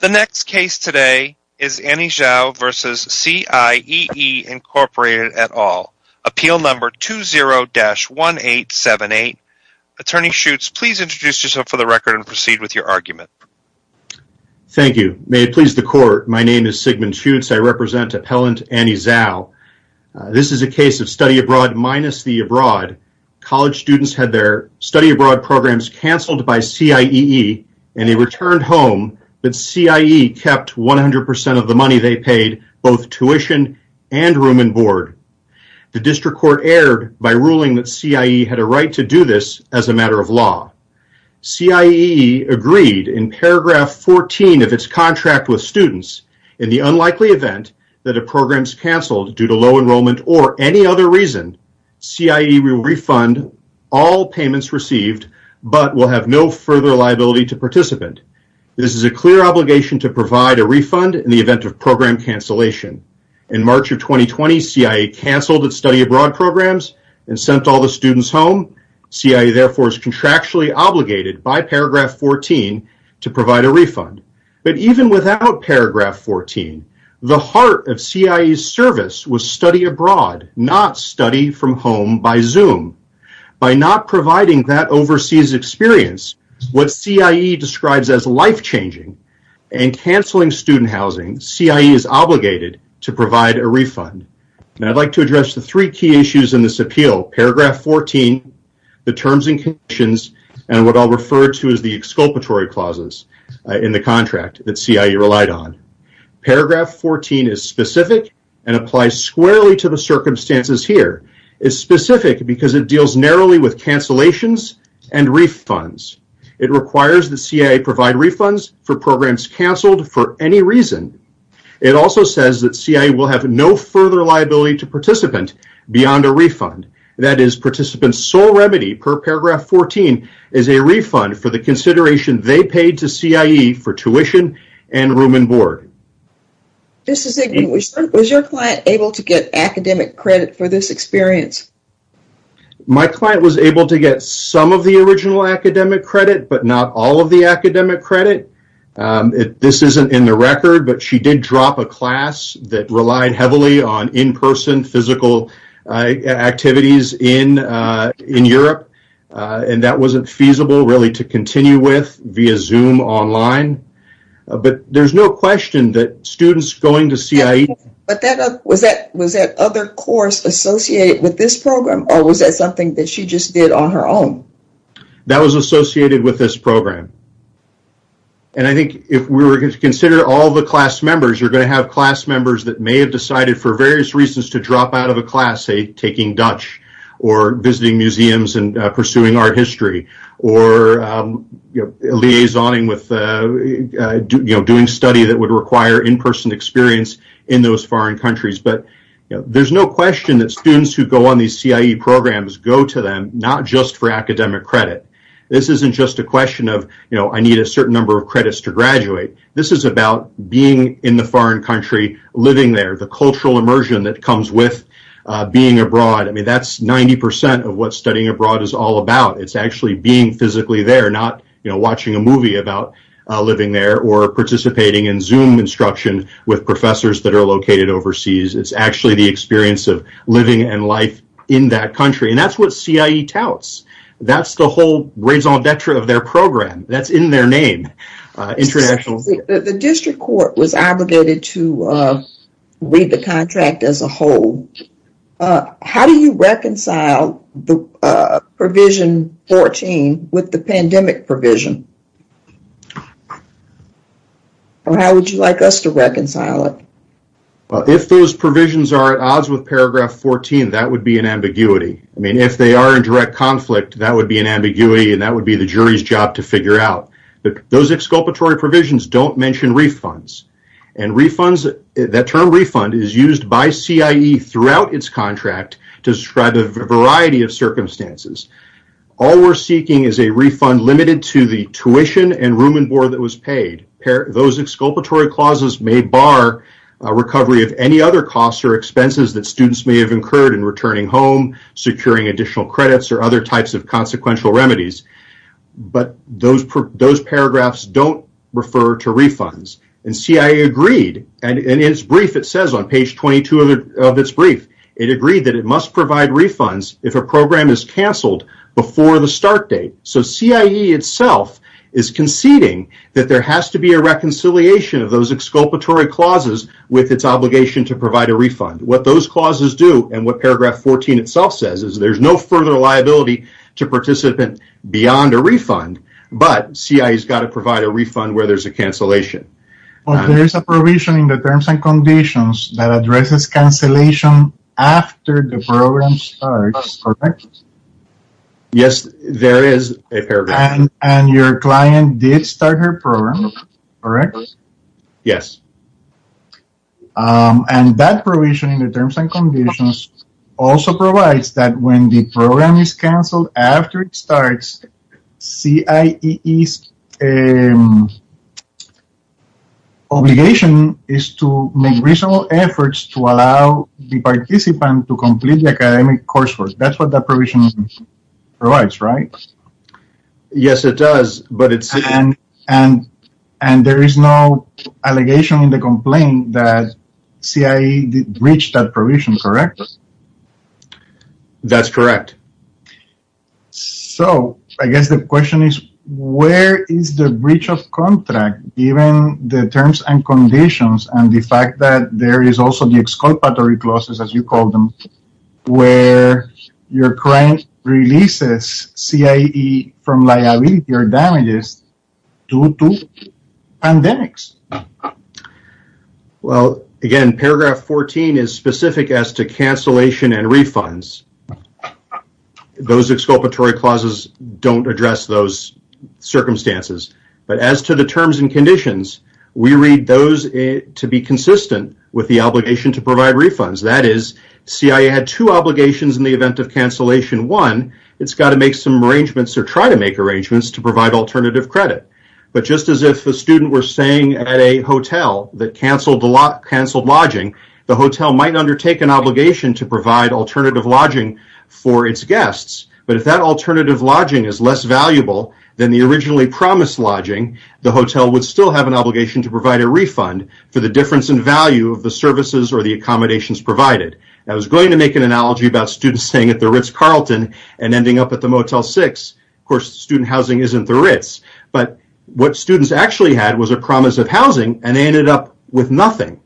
The next case today is Annie Zhao v. CIEE, Inc. et al., Appeal No. 20-1878. Attorney Schutz, please introduce yourself for the record and proceed with your argument. Thank you. May it please the Court, my name is Sigmund Schutz. I represent Appellant Annie Zhao. This is a case of study abroad minus the abroad. College students had their study abroad programs cancelled by CIEE and they returned home, but CIEE kept 100% of the money they paid, both tuition and room and board. The District Court erred by ruling that CIEE had a right to do this as a matter of law. CIEE agreed in paragraph 14 of its contract with students, in the unlikely event that a program is cancelled due to low enrollment or any other reason, CIEE will refund all payments received but will have no further liability to participant. This is a clear obligation to provide a refund in the event of program cancellation. In March of 2020, CIEE cancelled its study abroad programs and sent all the students home. CIEE, therefore, is contractually obligated by paragraph 14 to provide a refund. But even without paragraph 14, the heart of CIEE's service was study abroad, not study from home by Zoom. By not providing that overseas experience, what CIEE describes as life-changing, and cancelling student housing, CIEE is obligated to provide a refund. And I'd like to address the three key issues in this appeal, paragraph 14, the terms and conditions, and what I'll refer to as the exculpatory clauses in the contract that CIEE relied on. Paragraph 14 is specific and applies squarely to the circumstances here. It's specific because it deals narrowly with cancellations and refunds. It requires that CIEE provide refunds for programs cancelled for any reason. It also says that CIEE will have no further liability to participant beyond a refund. That is, participant's sole remedy per paragraph 14 is a refund for the consideration they paid to CIEE for tuition and room and board. This is Igby. Was your client able to get academic credit for this experience? My client was able to get some of the original academic credit, but not all of the academic credit. This isn't in the record, but she did drop a class that relied heavily on in-person physical activities in Europe, and that wasn't feasible, really, to continue with via Zoom online. But there's no question that students going to CIEE... Was that other course associated with this program, or was that something that she just did on her own? That was associated with this program. And I think if we were to consider all the class members, you're going to have class members that may have decided for various reasons to drop out of a class, say, taking Dutch, or visiting museums and pursuing art history, or liaisoning with doing study that would require in-person experience in those foreign countries. But there's no question that students who go on these CIEE programs go to them not just for academic credit. This isn't just a question of, you know, I need a certain number of credits to graduate. This is about being in the foreign country, living there, the cultural immersion that comes with being abroad. I mean, that's 90 percent of what studying abroad is all about. It's actually being physically there, not watching a movie about living there or participating in Zoom instruction with professors that are located overseas. It's actually the experience of living and life in that country. And that's what CIEE touts. That's the whole raison d'etre of their program. That's in their name. The district court was obligated to read the contract as a whole. How do you reconcile the Provision 14 with the pandemic provision? Or how would you like us to reconcile it? Well, if those provisions are at odds with Paragraph 14, that would be an ambiguity. I mean, if they are in direct conflict, that would be an ambiguity, and that would be the jury's job to figure out. Those exculpatory provisions don't mention refunds. And that term refund is used by CIEE throughout its contract to describe a variety of circumstances. All we're seeking is a refund limited to the tuition and room and board that was paid. Those exculpatory clauses may bar recovery of any other costs or expenses that students may have incurred in returning home, securing additional credits, or other types of consequential remedies. But those paragraphs don't refer to refunds. And CIEE agreed, and in its brief it says on page 22 of its brief, it agreed that it must provide refunds if a program is canceled before the start date. So CIEE itself is conceding that there has to be a reconciliation of those exculpatory clauses with its obligation to provide a refund. What those clauses do and what Paragraph 14 itself says is there's no further liability to participant beyond a refund, but CIEE's got to provide a refund where there's a cancellation. There is a provision in the Terms and Conditions that addresses cancellation after the program starts, correct? Yes, there is a paragraph. And your client did start her program, correct? Yes. And that provision in the Terms and Conditions also provides that when the program is canceled after it starts, CIEE's obligation is to make reasonable efforts to allow the participant to complete the academic coursework. That's what that provision provides, right? Yes, it does. And there is no allegation in the complaint that CIEE breached that provision, correct? That's correct. So I guess the question is where is the breach of contract given the Terms and Conditions and the fact that there is also the exculpatory clauses, as you call them, where your client releases CIEE from liability or damages due to pandemics? Well, again, paragraph 14 is specific as to cancellation and refunds. Those exculpatory clauses don't address those circumstances. But as to the Terms and Conditions, we read those to be consistent with the obligation to provide refunds. That is, CIEE had two obligations in the event of cancellation. One, it's got to make some arrangements or try to make arrangements to provide alternative credit. But just as if a student were staying at a hotel that canceled lodging, the hotel might undertake an obligation to provide alternative lodging for its guests. But if that alternative lodging is less valuable than the originally promised lodging, the hotel would still have an obligation to provide a refund for the difference in value of the services or the accommodations provided. I was going to make an analogy about students staying at the Ritz-Carlton and ending up at the Motel 6. Of course, student housing isn't the Ritz. But what students actually had was a promise of housing, and they ended up with nothing.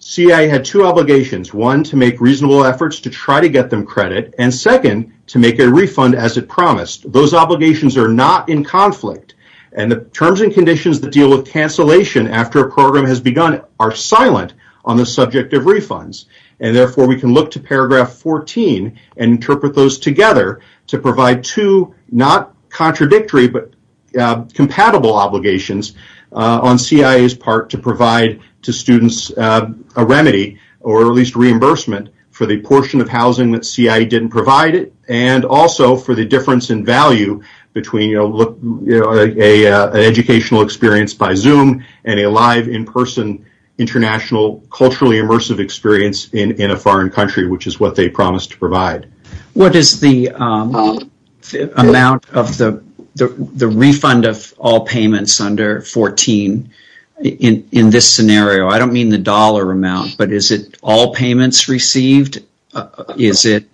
CIEE had two obligations. One, to make reasonable efforts to try to get them credit. And second, to make a refund as it promised. Those obligations are not in conflict. And the Terms and Conditions that deal with cancellation after a program has begun are silent on the subject of refunds. Therefore, we can look to Paragraph 14 and interpret those together to provide two, not contradictory but compatible obligations on CIEE's part to provide to students a remedy or at least reimbursement for the portion of housing that CIEE didn't provide and also for the difference in value between an educational experience by Zoom and a live, in-person, international, culturally immersive experience in a foreign country, which is what they promised to provide. What is the amount of the refund of all payments under 14 in this scenario? I don't mean the dollar amount, but is it all payments received? Is it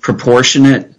proportionate?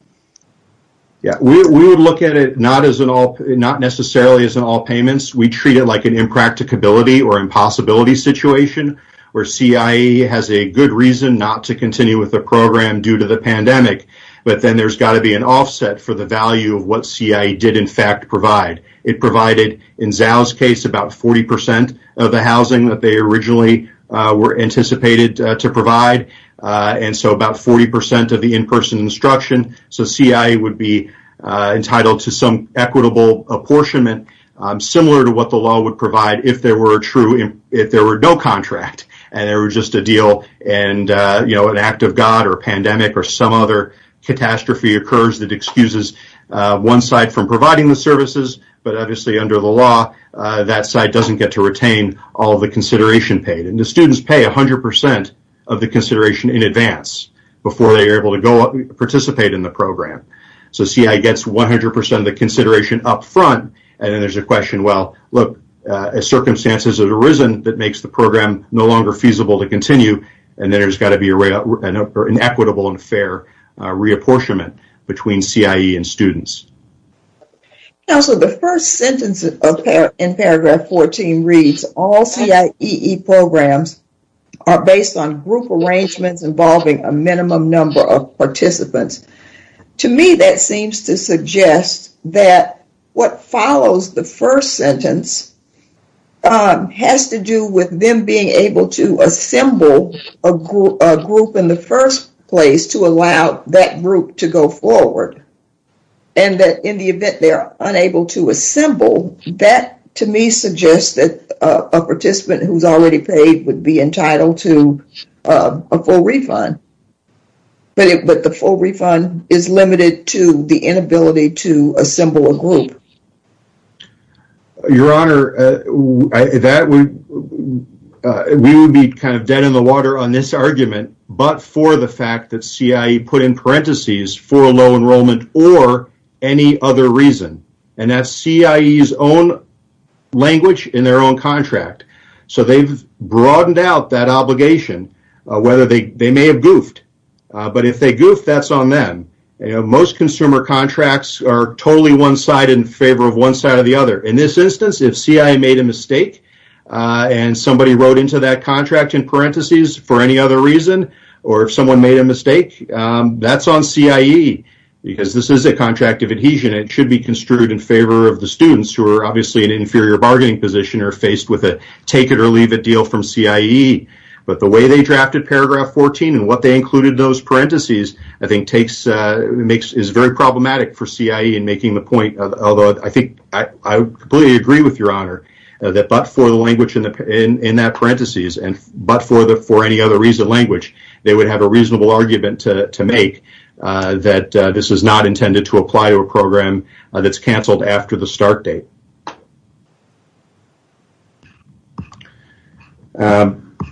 We would look at it not necessarily as an all payments. We treat it like an impracticability or impossibility situation where CIEE has a good reason not to continue with the program due to the pandemic, but then there's got to be an offset for the value of what CIEE did, in fact, provide. It provided, in Zhao's case, about 40% of the housing that they originally were anticipated to provide, and so about 40% of the in-person instruction. So CIEE would be entitled to some equitable apportionment. Similar to what the law would provide if there were no contract and there was just a deal and an act of God or a pandemic or some other catastrophe occurs that excuses one side from providing the services, but obviously under the law that side doesn't get to retain all the consideration paid. And the students pay 100% of the consideration in advance before they are able to participate in the program. So CIEE gets 100% of the consideration up front, and then there's a question, well, look, a circumstance has arisen that makes the program no longer feasible to continue, and then there's got to be an equitable and fair reapportionment between CIEE and students. Now, so the first sentence in paragraph 14 reads, all CIEE programs are based on group arrangements involving a minimum number of participants. To me, that seems to suggest that what follows the first sentence has to do with them being able to assemble a group in the first place to allow that group to go forward and that in the event they're unable to assemble, that to me suggests that a participant who's already paid would be entitled to a full refund, but the full refund is limited to the inability to assemble a group. Your Honor, we would be kind of dead in the water on this argument, but for the fact that CIEE put in parentheses for a low enrollment or any other reason, and that's CIEE's own language in their own contract. So they've broadened out that obligation, whether they may have goofed, but if they goofed, that's on them. Most consumer contracts are totally one side in favor of one side or the other. In this instance, if CIEE made a mistake and somebody wrote into that contract in parentheses for any other reason or if someone made a mistake, that's on CIEE because this is a contract of adhesion. It should be construed in favor of the students who are obviously in an inferior bargaining position or faced with a take-it-or-leave-it deal from CIEE, but the way they drafted paragraph 14 and what they included in those parentheses, I think is very problematic for CIEE in making the point, although I think I completely agree with Your Honor, that but for the language in that parentheses and but for any other reason language, they would have a reasonable argument to make that this is not intended to apply to a program that's canceled after the start date.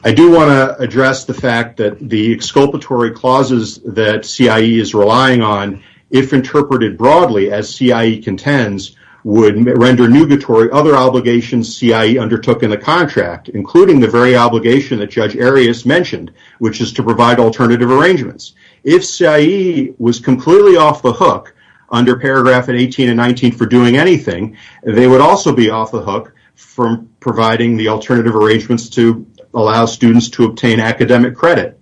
I do want to address the fact that the exculpatory clauses that CIEE is relying on, if interpreted broadly as CIEE contends, would render nugatory other obligations CIEE undertook in the contract, including the very obligation that Judge Arias mentioned, which is to provide alternative arrangements. If CIEE was completely off the hook under paragraph 18 and 19 for doing anything, they would also be off the hook from providing the alternative arrangements to allow students to obtain academic credit.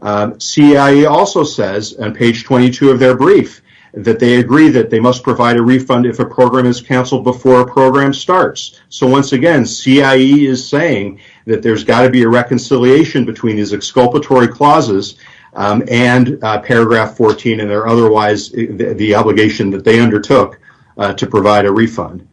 CIEE also says on page 22 of their brief that they agree that they must provide a refund if a program is canceled before a program starts. So once again, CIEE is saying that there's got to be a reconciliation between these exculpatory clauses and paragraph 14 and otherwise the obligation that they undertook to provide a refund.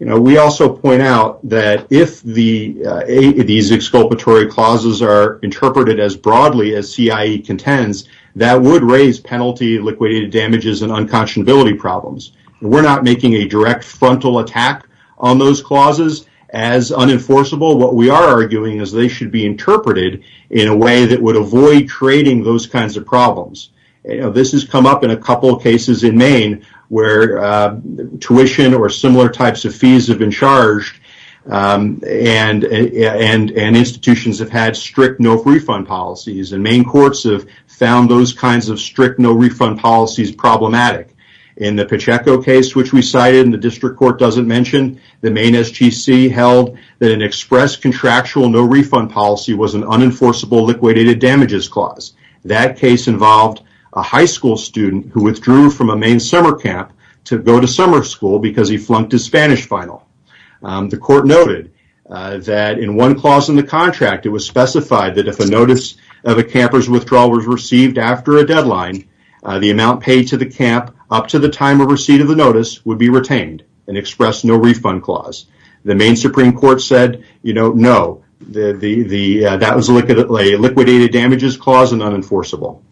We also point out that if these exculpatory clauses are interpreted as broadly as CIEE contends, that would raise penalty, liquidated damages, and unconscionability problems. We're not making a direct frontal attack on those clauses as unenforceable. What we are arguing is they should be interpreted in a way that would avoid creating those kinds of problems. This has come up in a couple of cases in Maine where tuition or similar types of fees have been charged and institutions have had strict no-refund policies, and Maine courts have found those kinds of strict no-refund policies problematic. In the Pacheco case, which we cited and the district court doesn't mention, the Maine SGC held that an express contractual no-refund policy was an unenforceable liquidated damages clause. That case involved a high school student who withdrew from a Maine summer camp to go to summer school because he flunked his Spanish final. The court noted that in one clause in the contract, it was specified that if a notice of a camper's withdrawal was received after a deadline, the amount paid to the camp up to the time of receipt of the notice would be retained, an express no-refund clause. The Maine Supreme Court said no. That was a liquidated damages clause and unenforceable.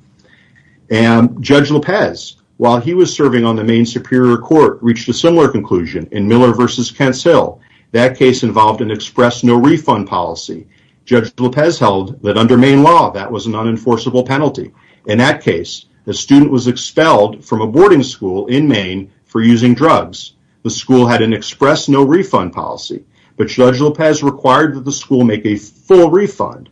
Judge Lopez, while he was serving on the Maine Superior Court, reached a similar conclusion in Miller v. Kent's Hill. That case involved an express no-refund policy. Judge Lopez held that under Maine law, that was an unenforceable penalty. In that case, the student was expelled from a boarding school in Maine for using drugs. The school had an express no-refund policy, but Judge Lopez required that the school make a full refund.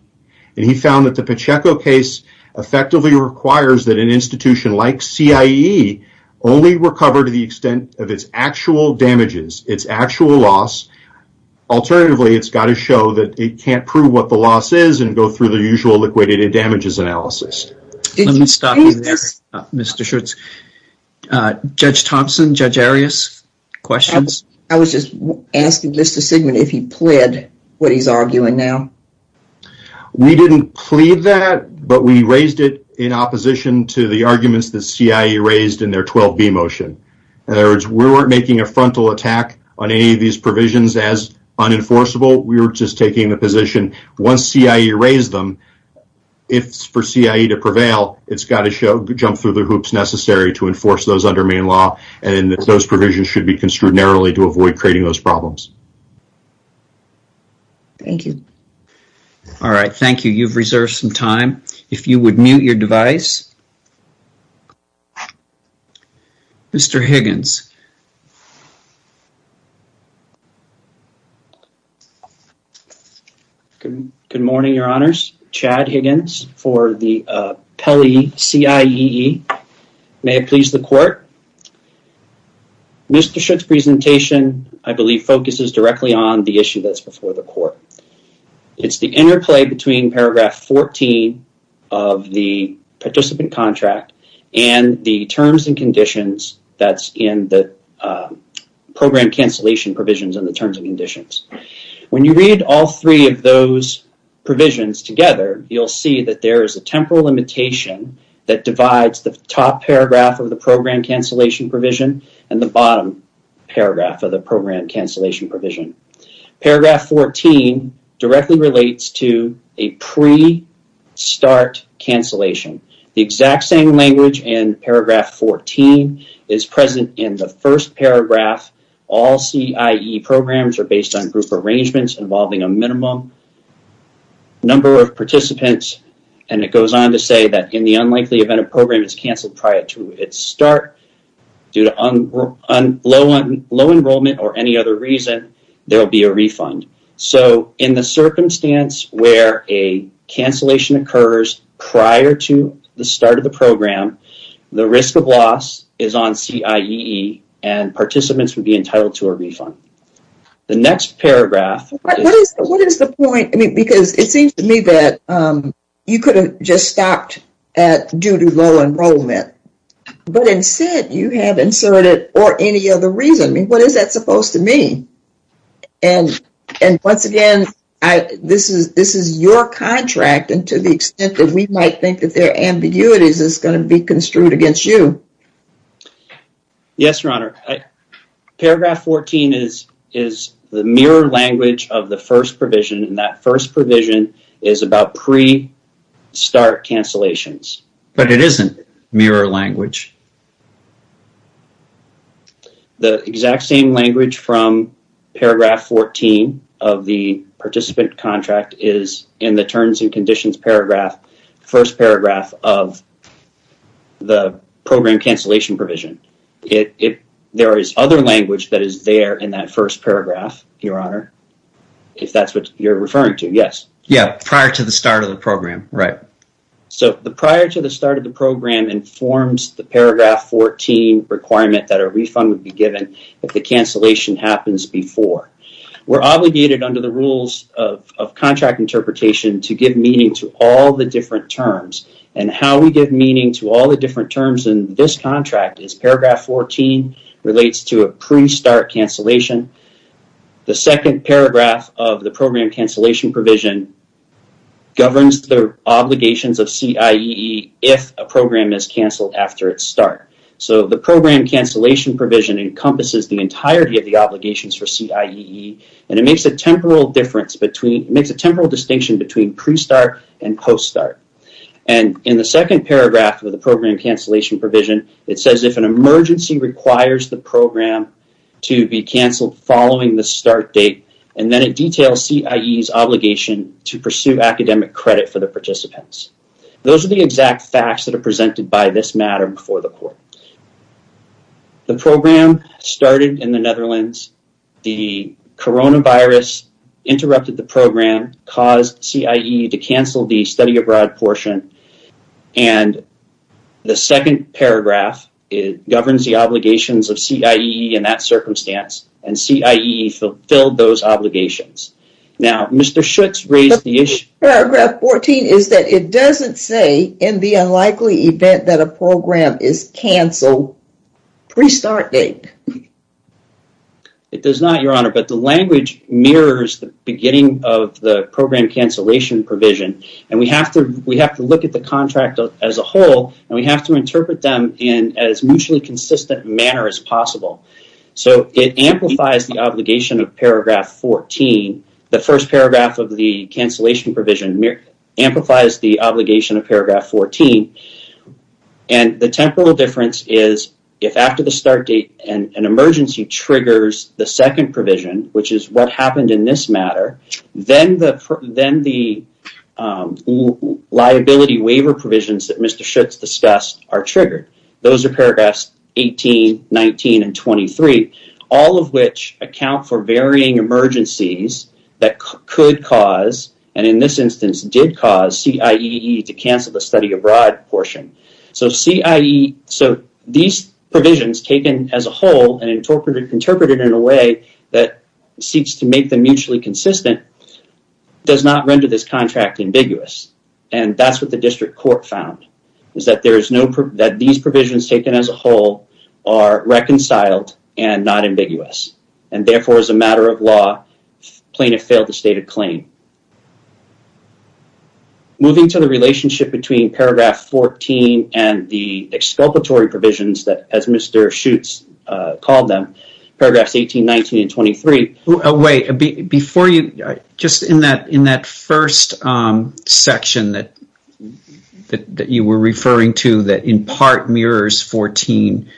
He found that the Pacheco case effectively requires that an institution like CIE only recover to the extent of its actual damages, its actual loss. Alternatively, it's got to show that it can't prove what the loss is and go through the usual liquidated damages analysis. Let me stop you there, Mr. Schutz. Judge Thompson, Judge Arias, questions? I was just asking Mr. Sigman if he plead what he's arguing now. We didn't plead that, but we raised it in opposition to the arguments that CIE raised in their 12B motion. In other words, we weren't making a frontal attack on any of these provisions as unenforceable. We were just taking the position once CIE raised them, if it's for CIE to prevail, it's got to jump through the hoops necessary to enforce those under Maine law, and those provisions should be construed narrowly to avoid creating those problems. Thank you. All right, thank you. You've reserved some time. If you would mute your device. Mr. Higgins. Good morning, Your Honors. Chad Higgins for the Pelley CIEE. May it please the court. Mr. Schutz's presentation, I believe, focuses directly on the issue that's before the court. It's the interplay between Paragraph 14 of the participant contract and the terms and conditions that's in the program cancellation provisions and the terms and conditions. When you read all three of those provisions together, you'll see that there is a temporal limitation that divides the top paragraph of the program cancellation provision and the bottom paragraph of the program cancellation provision. Paragraph 14 directly relates to a pre-start cancellation. The exact same language in Paragraph 14 is present in the first paragraph. All CIEE programs are based on group arrangements involving a minimum number of participants, and it goes on to say that, in the unlikely event a program is canceled prior to its start, due to low enrollment or any other reason, there will be a refund. So in the circumstance where a cancellation occurs prior to the start of the program, the risk of loss is on CIEE, and participants would be entitled to a refund. The next paragraph. What is the point? Because it seems to me that you could have just stopped due to low enrollment, but instead you have inserted or any other reason. I mean, what is that supposed to mean? And once again, this is your contract, and to the extent that we might think that there are ambiguities, it's going to be construed against you. Yes, Your Honor. Paragraph 14 is the mirror language of the first provision, and that first provision is about pre-start cancellations. But it isn't mirror language. The exact same language from paragraph 14 of the participant contract is in the terms and conditions paragraph, first paragraph of the program cancellation provision. There is other language that is there in that first paragraph, Your Honor, if that's what you're referring to. Yes. Yeah, prior to the start of the program, right. So the prior to the start of the program informs the paragraph 14 requirement that a refund would be given if the cancellation happens before. We're obligated under the rules of contract interpretation to give meaning to all the different terms, and how we give meaning to all the different terms in this contract is paragraph 14 relates to a pre-start cancellation. The second paragraph of the program cancellation provision governs the obligations of CIEE if a program is canceled after its start. So the program cancellation provision encompasses the entirety of the obligations for CIEE, and it makes a temporal distinction between pre-start and post-start. And in the second paragraph of the program cancellation provision, it says if an emergency requires the program to be canceled following the start date, and then it details CIEE's obligation to pursue academic credit for the participants. Those are the exact facts that are presented by this matter before the court. The program started in the Netherlands. The coronavirus interrupted the program, caused CIEE to cancel the study abroad portion, and the second paragraph governs the obligations of CIEE in that circumstance, and CIEE fulfilled those obligations. Now, Mr. Schutz raised the issue. Paragraph 14 is that it doesn't say in the unlikely event that a program is canceled pre-start date. It does not, Your Honor, but the language mirrors the beginning of the program cancellation provision, and we have to look at the contract as a whole, and we have to interpret them in as mutually consistent manner as possible. So it amplifies the obligation of paragraph 14. The first paragraph of the cancellation provision amplifies the obligation of paragraph 14, and the temporal difference is if after the start date an emergency triggers the second provision, which is what happened in this matter, then the liability waiver provisions that Mr. Schutz discussed are triggered. Those are paragraphs 18, 19, and 23, all of which account for varying emergencies that could cause, and in this instance did cause, CIEE to cancel the study abroad portion. So these provisions taken as a whole and interpreted in a way that seeks to make them mutually consistent does not render this contract ambiguous, and that's what the district court found, is that these provisions taken as a whole are reconciled and not ambiguous, and therefore, as a matter of law, plaintiff failed to state a claim. Moving to the relationship between paragraph 14 and the exculpatory provisions, as Mr. Schutz called them, paragraphs 18, 19, and 23. Just in that first section that you were referring to, that in part mirrors 14,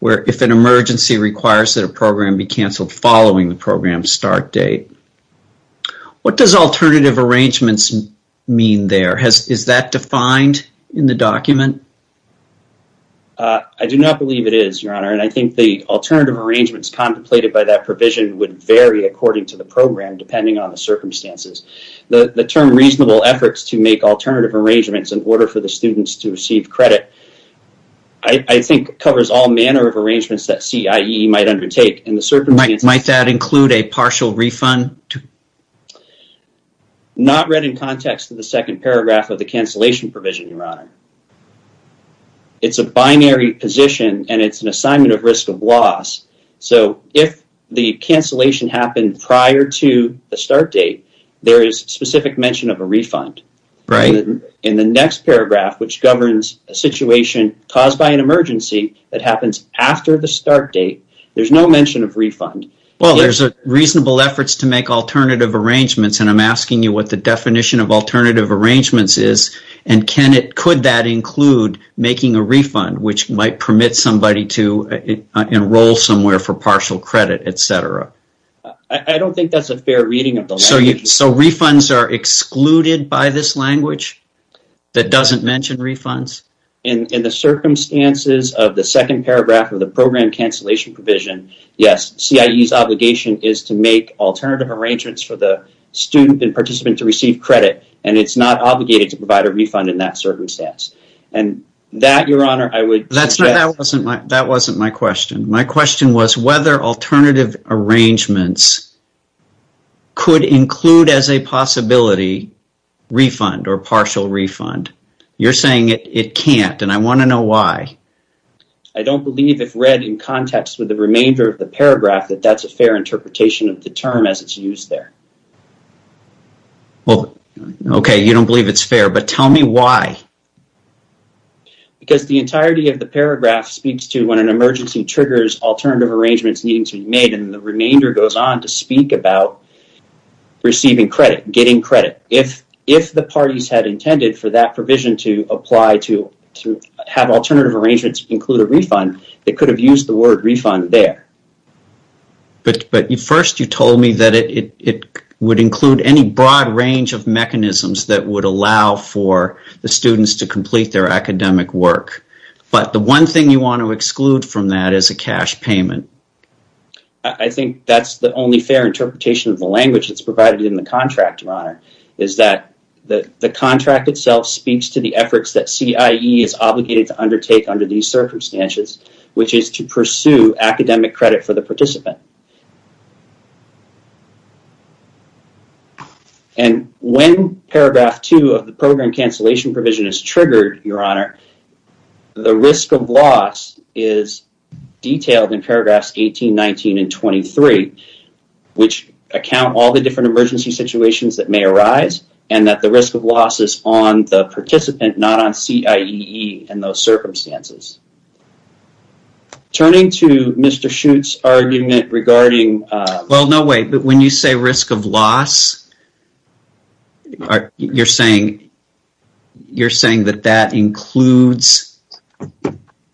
where if an emergency requires that a program be canceled following the program's start date, what does alternative arrangements mean there? Is that defined in the document? I do not believe it is, Your Honor, and I think the alternative arrangements contemplated by that provision would vary according to the program, depending on the circumstances. The term reasonable efforts to make alternative arrangements in order for the students to receive credit, I think covers all manner of arrangements that CIEE might undertake. Might that include a partial refund? It's a binary position, and it's an assignment of risk of loss, so if the cancellation happened prior to the start date, there is specific mention of a refund. In the next paragraph, which governs a situation caused by an emergency that happens after the start date, there's no mention of refund. Well, there's reasonable efforts to make alternative arrangements, and I'm asking you what the definition of alternative arrangements is, and could that include making a refund, which might permit somebody to enroll somewhere for partial credit, et cetera? I don't think that's a fair reading of the language. So refunds are excluded by this language that doesn't mention refunds? In the circumstances of the second paragraph of the program cancellation provision, yes, CIEE's obligation is to make alternative arrangements for the student and participant to receive credit, and it's not obligated to provide a refund in that circumstance. That wasn't my question. My question was whether alternative arrangements could include as a possibility refund or partial refund. You're saying it can't, and I want to know why. I don't believe if read in context with the remainder of the paragraph that that's a fair interpretation of the term as it's used there. Well, okay, you don't believe it's fair, but tell me why. Because the entirety of the paragraph speaks to when an emergency triggers alternative arrangements needing to be made, and the remainder goes on to speak about receiving credit, getting credit. If the parties had intended for that provision to apply to have alternative arrangements include a refund, they could have used the word refund there. But first you told me that it would include any broad range of mechanisms that would allow for the students to complete their academic work. But the one thing you want to exclude from that is a cash payment. I think that's the only fair interpretation of the language that's provided in the contract, Your Honor, is that the contract itself speaks to the efforts that CIEE is obligated to undertake under these circumstances, which is to pursue academic credit for the participant. And when paragraph two of the program cancellation provision is triggered, Your Honor, the risk of loss is detailed in paragraphs 18, 19, and 23, which account all the different emergency situations that may arise and that the risk of loss is on the participant, not on CIEE in those circumstances. Turning to Mr. Schutt's argument regarding... Well, no way. But when you say risk of loss, you're saying that that includes,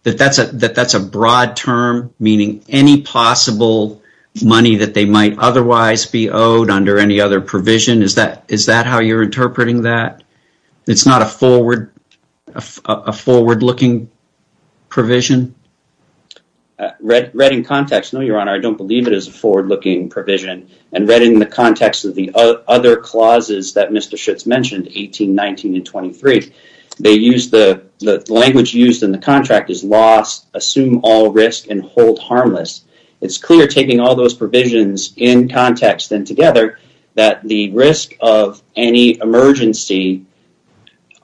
that that's a broad term, meaning any possible money that they might otherwise be owed under any other provision. Is that how you're interpreting that? It's not a forward-looking provision? Read in context. No, Your Honor, I don't believe it is a forward-looking provision. And read in the context of the other clauses that Mr. Schutt's mentioned, 18, 19, and 23. They use the language used in the contract is loss, assume all risk, and hold harmless. It's clear taking all those provisions in context and together that the risk of any emergency,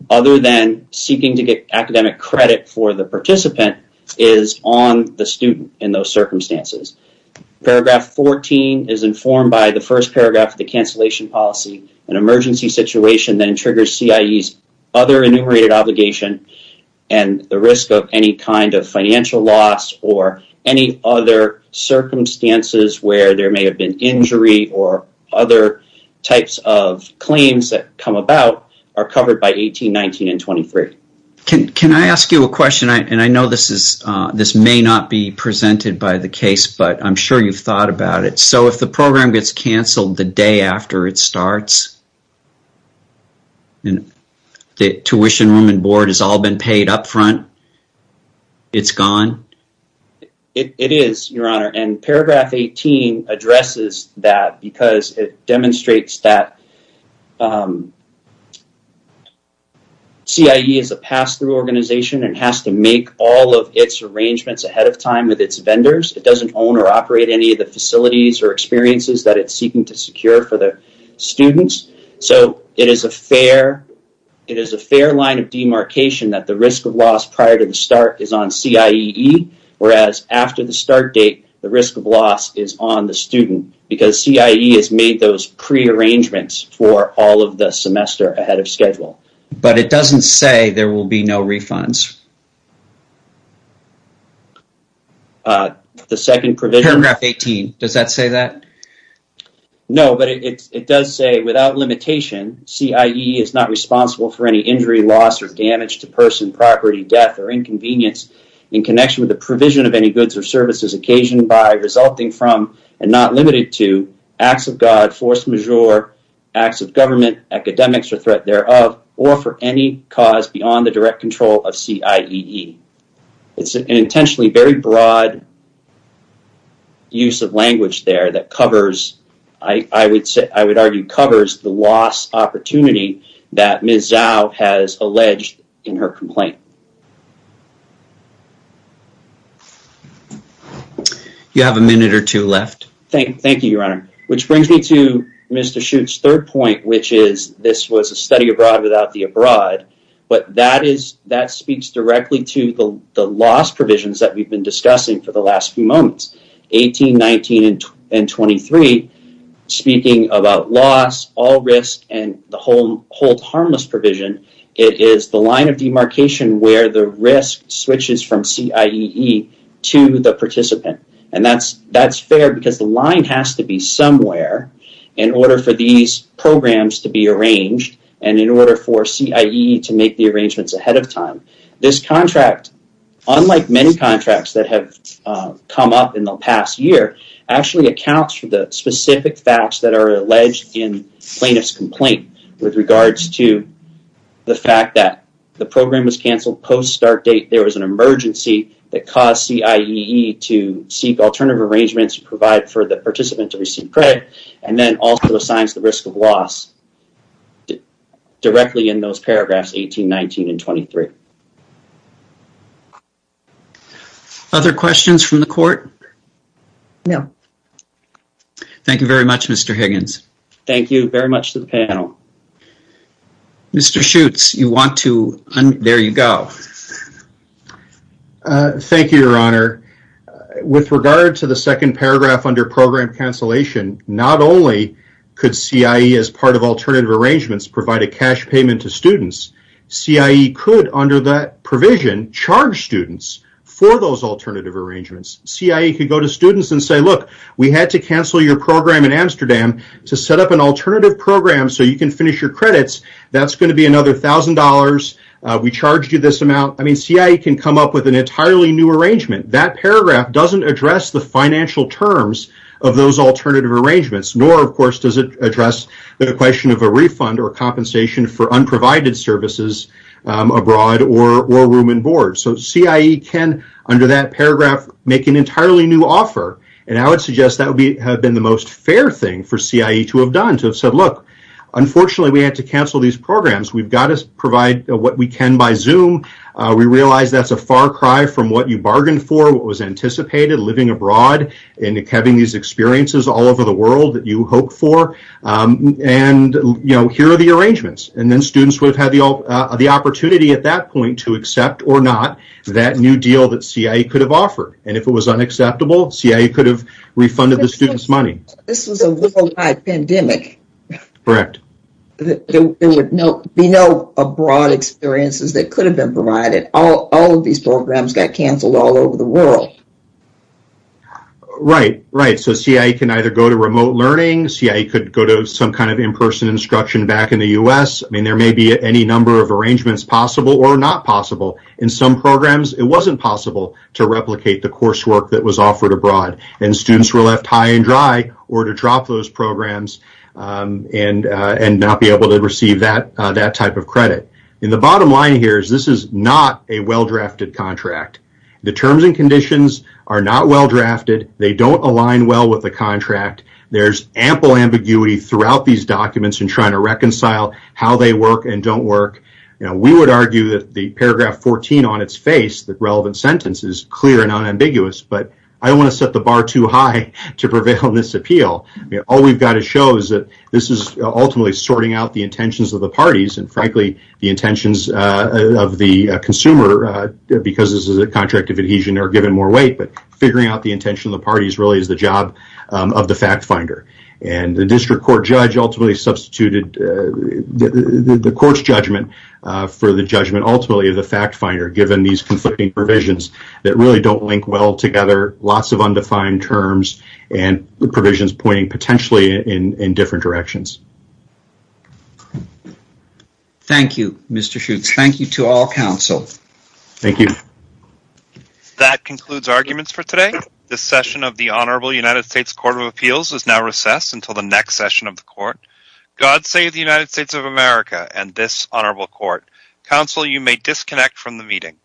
other than seeking to get academic credit for the participant, is on the student in those circumstances. Paragraph 14 is informed by the first paragraph of the cancellation policy. An emergency situation then triggers CIEE's other enumerated obligation and the risk of any kind of financial loss or any other circumstances where there may have been injury or other types of claims that come about are covered by 18, 19, and 23. Can I ask you a question? And I know this may not be presented by the case, but I'm sure you've thought about it. So if the program gets canceled the day after it starts and the tuition room and board has all been paid up front, it's gone? It is, Your Honor. And Paragraph 18 addresses that because it demonstrates that CIEE is a pass-through organization and has to make all of its arrangements ahead of time with its vendors. It doesn't own or operate any of the facilities or experiences that it's seeking to secure for the students. So it is a fair line of demarcation that the risk of loss prior to the start is on CIEE, whereas after the start date, the risk of loss is on the student because CIEE has made those prearrangements for all of the semester ahead of schedule. But it doesn't say there will be no refunds. Paragraph 18, does that say that? No, but it does say, without limitation, CIEE is not responsible for any injury, loss, or damage to person, property, death, or inconvenience in connection with the provision of any goods or services occasioned by, resulting from, and not limited to, acts of God, force majeure, acts of government, academics, or threat thereof, or for any cause beyond the direct control of CIEE. It's an intentionally very broad use of language there that covers, I would argue, covers the loss opportunity that Ms. Zhou has alleged in her complaint. You have a minute or two left. Thank you, Your Honor. Which brings me to Mr. Shute's third point, which is this was a study abroad without the abroad, but that speaks directly to the loss provisions that we've been discussing for the last few moments, 18, 19, and 23, speaking about loss, all risk, and the hold harmless provision. It is the line of demarcation where the risk switches from CIEE to the participant. And that's fair because the line has to be somewhere in order for these programs to be arranged and in order for CIEE to make the arrangements ahead of time. This contract, unlike many contracts that have come up in the past year, actually accounts for the specific facts that are alleged in plaintiff's complaint with regards to the fact that the program was canceled post-start date. There was an emergency that caused CIEE to seek alternative arrangements to provide for the participant to receive credit and then also assigns the risk of loss directly in those paragraphs 18, 19, and 23. Other questions from the court? No. Thank you very much, Mr. Higgins. Thank you very much to the panel. Mr. Schutz, you want to... There you go. Thank you, Your Honor. With regard to the second paragraph under program cancellation, not only could CIEE, as part of alternative arrangements, provide a cash payment to students, CIEE could, under that provision, charge students for those alternative arrangements. CIEE could go to students and say, look, we had to cancel your program in Amsterdam to set up an alternative program so you can finish your credits. That's going to be another $1,000. We charged you this amount. I mean, CIEE can come up with an entirely new arrangement. That paragraph doesn't address the financial terms of those alternative arrangements, nor, of course, does it address the question of a refund or compensation for unprovided services abroad or room and board. So CIEE can, under that paragraph, make an entirely new offer, and I would suggest that would have been the most fair thing for CIEE to have done, to have said, look, unfortunately, we had to cancel these programs. We've got to provide what we can by Zoom. We realize that's a far cry from what you bargained for, what was anticipated, living abroad and having these experiences all over the world that you hoped for. And, you know, here are the arrangements. And then students would have had the opportunity at that point to accept or not that new deal that CIEE could have offered. And if it was unacceptable, CIEE could have refunded the students' money. This was a worldwide pandemic. Correct. There would be no abroad experiences that could have been provided. All of these programs got canceled all over the world. Right, right. So CIEE can either go to remote learning. CIEE could go to some kind of in-person instruction back in the U.S. I mean, there may be any number of arrangements possible or not possible. In some programs, it wasn't possible to replicate the coursework that was offered abroad, and students were left high and dry or to drop those programs and not be able to receive that type of credit. And the bottom line here is this is not a well-drafted contract. The terms and conditions are not well-drafted. They don't align well with the contract. There's ample ambiguity throughout these documents in trying to reconcile how they work and don't work. We would argue that the paragraph 14 on its face, the relevant sentence, is clear and unambiguous, but I don't want to set the bar too high to prevail in this appeal. All we've got to show is that this is ultimately sorting out the intentions of the parties and, frankly, the intentions of the consumer, because this is a contract of adhesion, are given more weight. But figuring out the intention of the parties really is the job of the fact finder. And the district court judge ultimately substituted the court's judgment for the judgment ultimately of the fact finder, given these conflicting provisions that really don't link well together, lots of undefined terms, and provisions pointing potentially in different directions. Thank you, Mr. Schutz. Thank you to all counsel. Thank you. That concludes arguments for today. This session of the Honorable United States Court of Appeals is now recessed until the next session of the court. God save the United States of America and this honorable court. Counsel, you may disconnect from the meeting.